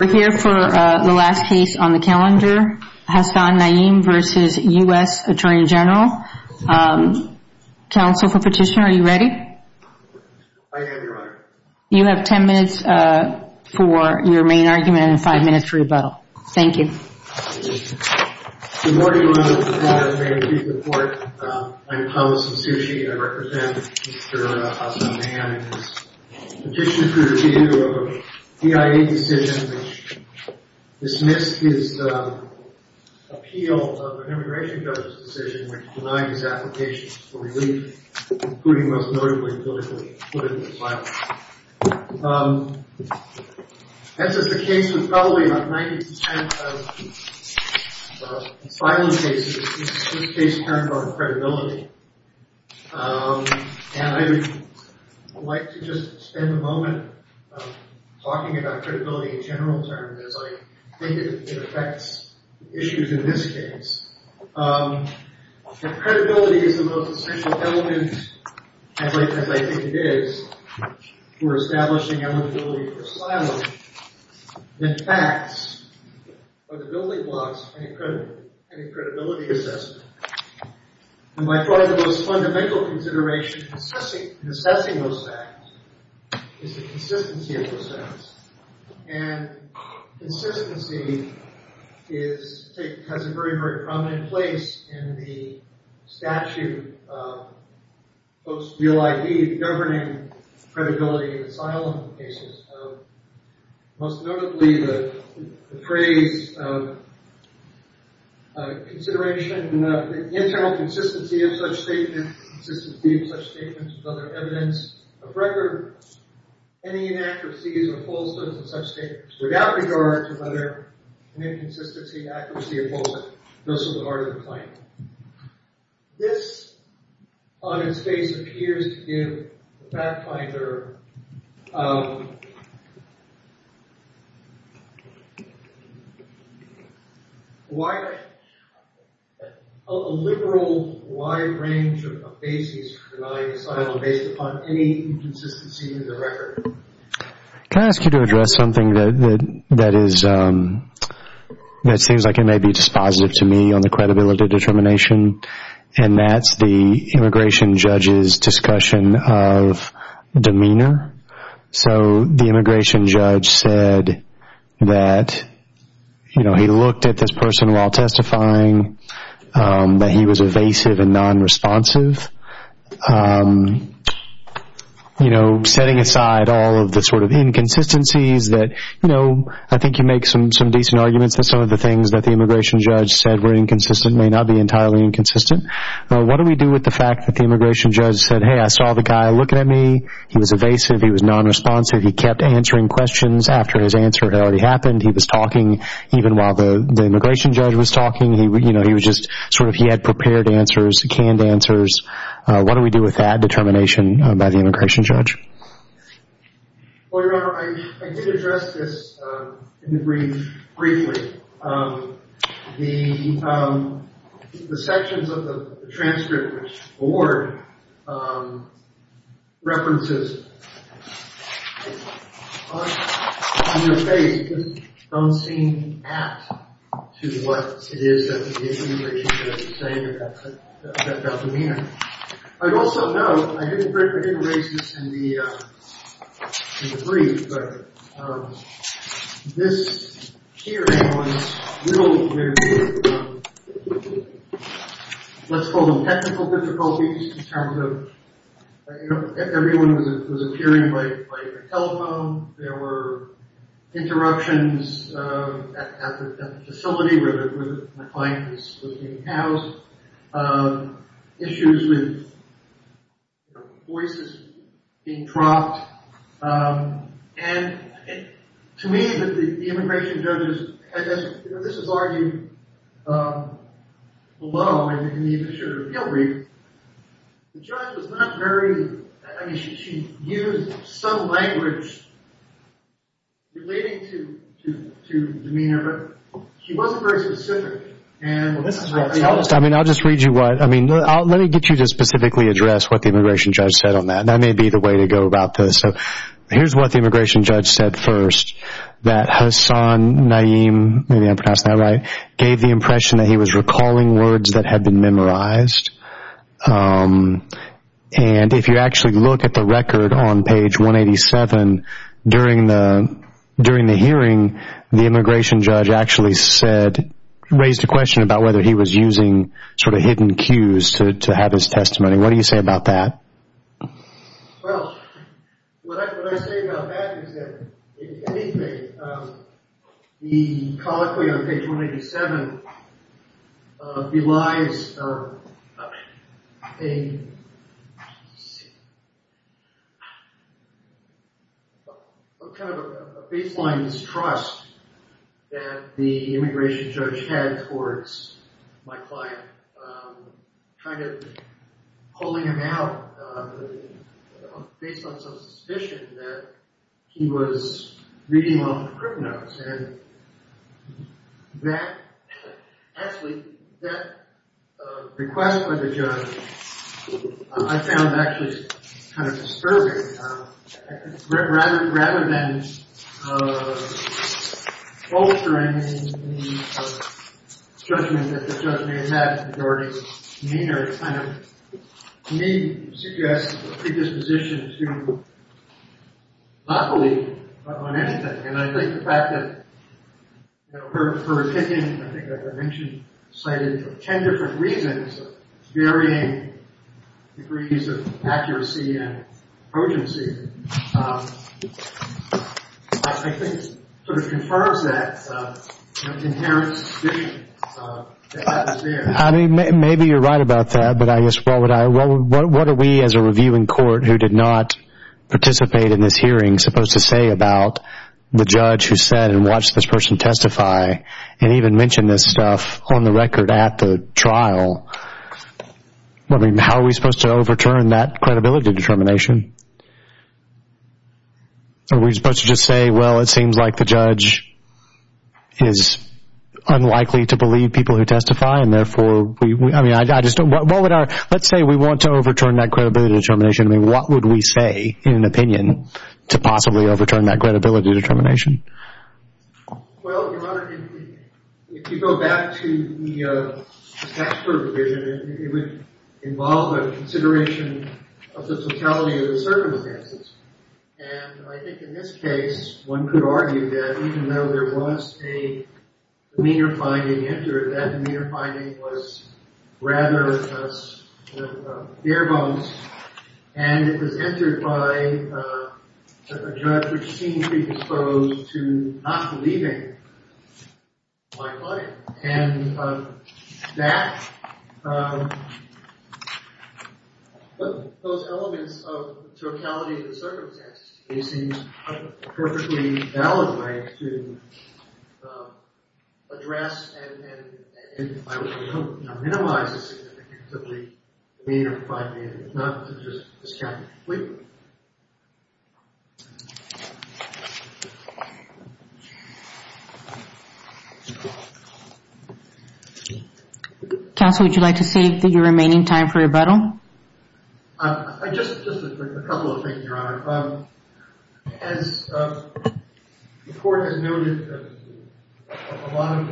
We're here for the last case on the calendar, Hasan-Nayem v. U.S. Attorney General. Counsel for petitioner, are you ready? You have ten minutes for your main argument and five minutes for rebuttal. Thank you. Good morning, ladies and gentlemen. Thank you for your support. I'm Thomas Osushi. I represent Mr. Hasan-Nayem. I'm a petitioner for the review of a D.I.A. decision which dismissed his appeal of an immigration judge's decision, which denied his application for relief, including most notably, politically, put him in asylum. As is the case with probably about 90% of asylum cases, this is a case in terms of credibility. And I would like to just spend a moment talking about credibility in general terms, as I think it affects issues in this case. If credibility is the most essential element, as I think it is, for establishing eligibility for asylum, then facts are the building blocks for any credibility assessment. And by far the most fundamental consideration in assessing those facts is the consistency of those facts. And consistency has a very, very prominent place in the statute of post-real ID, the governing credibility of asylum cases. Most notably, the phrase, consideration of the internal consistency of such statements with other evidence of record, any inaccuracies or falseness of such statements without regard to whether an inconsistency, accuracy, or falseness goes to the heart of the claim. This, on its face, appears to give the fact finder a liberal, wide range of bases for denying asylum based upon any inconsistency in the record. Can I ask you to address something that seems like it may be dispositive to me on the credibility determination, and that's the immigration judge's discussion of demeanor. So the immigration judge said that he looked at this person while testifying, that he was evasive and non-responsive. Setting aside all of the inconsistencies, I think you make some decent arguments that some of the things that the immigration judge said were inconsistent may not be entirely inconsistent. What do we do with the fact that the immigration judge said, hey, I saw the guy looking at me. He was evasive. He was non-responsive. He kept answering questions after his answer had already happened. He was talking even while the immigration judge was talking. He was just sort of, he had prepared answers, canned answers. What do we do with that determination by the immigration judge? Well, Your Honor, I did address this in the brief briefly. The sections of the transcript which the board references on your page don't seem to add to what it is that the immigration judge is saying about demeanor. I'd also note, I didn't raise this in the brief, but this hearing was a little bit, let's call them technical difficulties in terms of everyone was appearing by telephone. There were interruptions at the facility where my client was being housed. Issues with voices being dropped. And to me, the immigration judge, this is argued below in the official appeal brief, the judge was not very, I mean, she used some language relating to demeanor. She wasn't very specific. I mean, I'll just read you what, I mean, let me get you to specifically address what the immigration judge said on that. That may be the way to go about this. Here's what the immigration judge said first, that Hassan Naeem, maybe I'm pronouncing that right, gave the impression that he was recalling words that had been memorized. And if you actually look at the record on page 187, during the hearing, the immigration judge actually said, raised a question about whether he was using sort of hidden cues to have his testimony. What do you say about that? Well, what I say about that is that the colloquy on page 187 belies a kind of a baseline distrust that the immigration judge had towards my client, kind of pulling him out based on some suspicion that he was reading off the crip notes. And that, actually, that request by the judge I found actually kind of disturbing. Rather than altering the judgment that the judge made in that majority manner, it kind of, to me, suggests a predisposition to not believe on anything. And I think the fact that, you know, her opinion, I think I mentioned, cited ten different reasons varying degrees of accuracy and urgency, I think sort of confirms that inherent suspicion that was there. I mean, maybe you're right about that, but I guess what would I, what are we as a reviewing court who did not participate in this hearing supposed to say about the judge who said and watched this person testify and even mention this stuff on the record at the trial? I mean, how are we supposed to overturn that credibility determination? Are we supposed to just say, well, it seems like the judge is unlikely to believe people who testify and therefore, I mean, I just don't, what would our, let's say we want to overturn that credibility determination. I mean, what would we say in an opinion to possibly overturn that credibility determination? Well, Your Honor, if you go back to the taxpayer provision, it would involve a consideration of the totality of the circumstances. And I think in this case, one could argue that even though there was a demeanor finding entered, that demeanor finding was rather bare bones, and it was entered by a judge who seemed to be exposed to not believing my client. And that, those elements of totality of the circumstances may seem a perfectly valid way to address and minimize a significantly demeanor finding, not to just discount it. Counsel, would you like to save your remaining time for rebuttal? I just, just a couple of things, Your Honor. As the court has noted, a lot of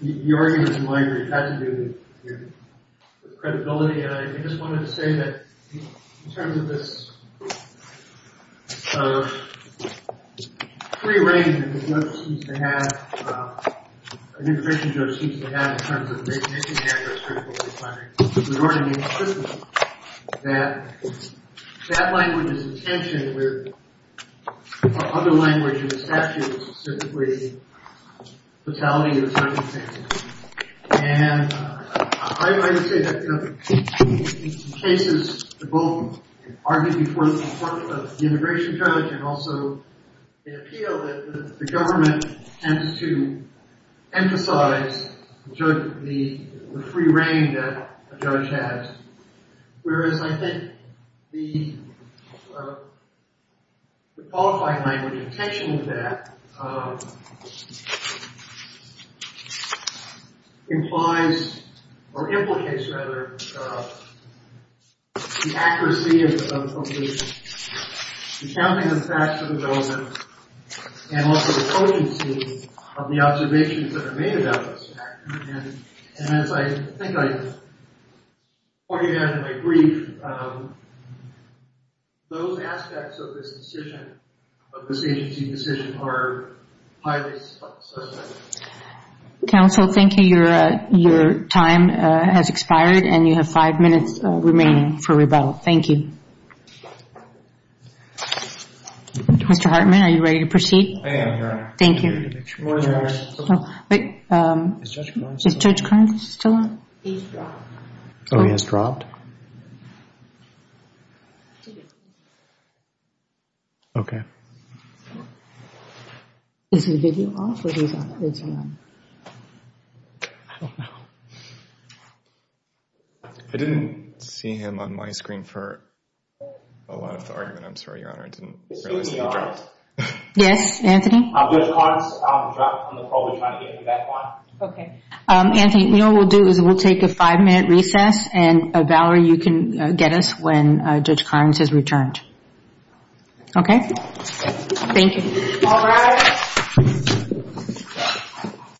the arguments in my brief had to do with credibility. And I just wanted to say that in terms of this prearrangement that the judge seems to have, an intervention judge seems to have in terms of making any characteristic of a case finding, it would already make sense that that language is in tension with other language in the statute, specifically totality of the circumstances. And I would like to say that in cases that both argued before the immigration judge and also in appeal, that the government tends to emphasize the free reign that a judge has, whereas I think the qualified language in tension with that implies, or implicates rather, the accuracy of the counting of facts of the government and also the potency of the observations that are made about this fact. And as I think I pointed out in my brief, those aspects of this decision, of this agency's decision, are highly suspect. Counsel, thank you. Your time has expired and you have five minutes remaining for rebuttal. Thank you. Mr. Hartman, are you ready to proceed? I am, Your Honor. Thank you. Wait, is Judge Kerns still on? He's dropped. Oh, he has dropped? Okay. Is the video off or is he on? I don't know. I didn't see him on my screen for a lot of the argument, I'm sorry, Your Honor. Excuse me, Your Honor. Yes, Anthony? Judge Kerns dropped on the floor. We're trying to get him back on. Okay. Anthony, you know what we'll do is we'll take a five-minute recess and Valerie, you can get us when Judge Kerns has returned. Okay? Thank you. All rise.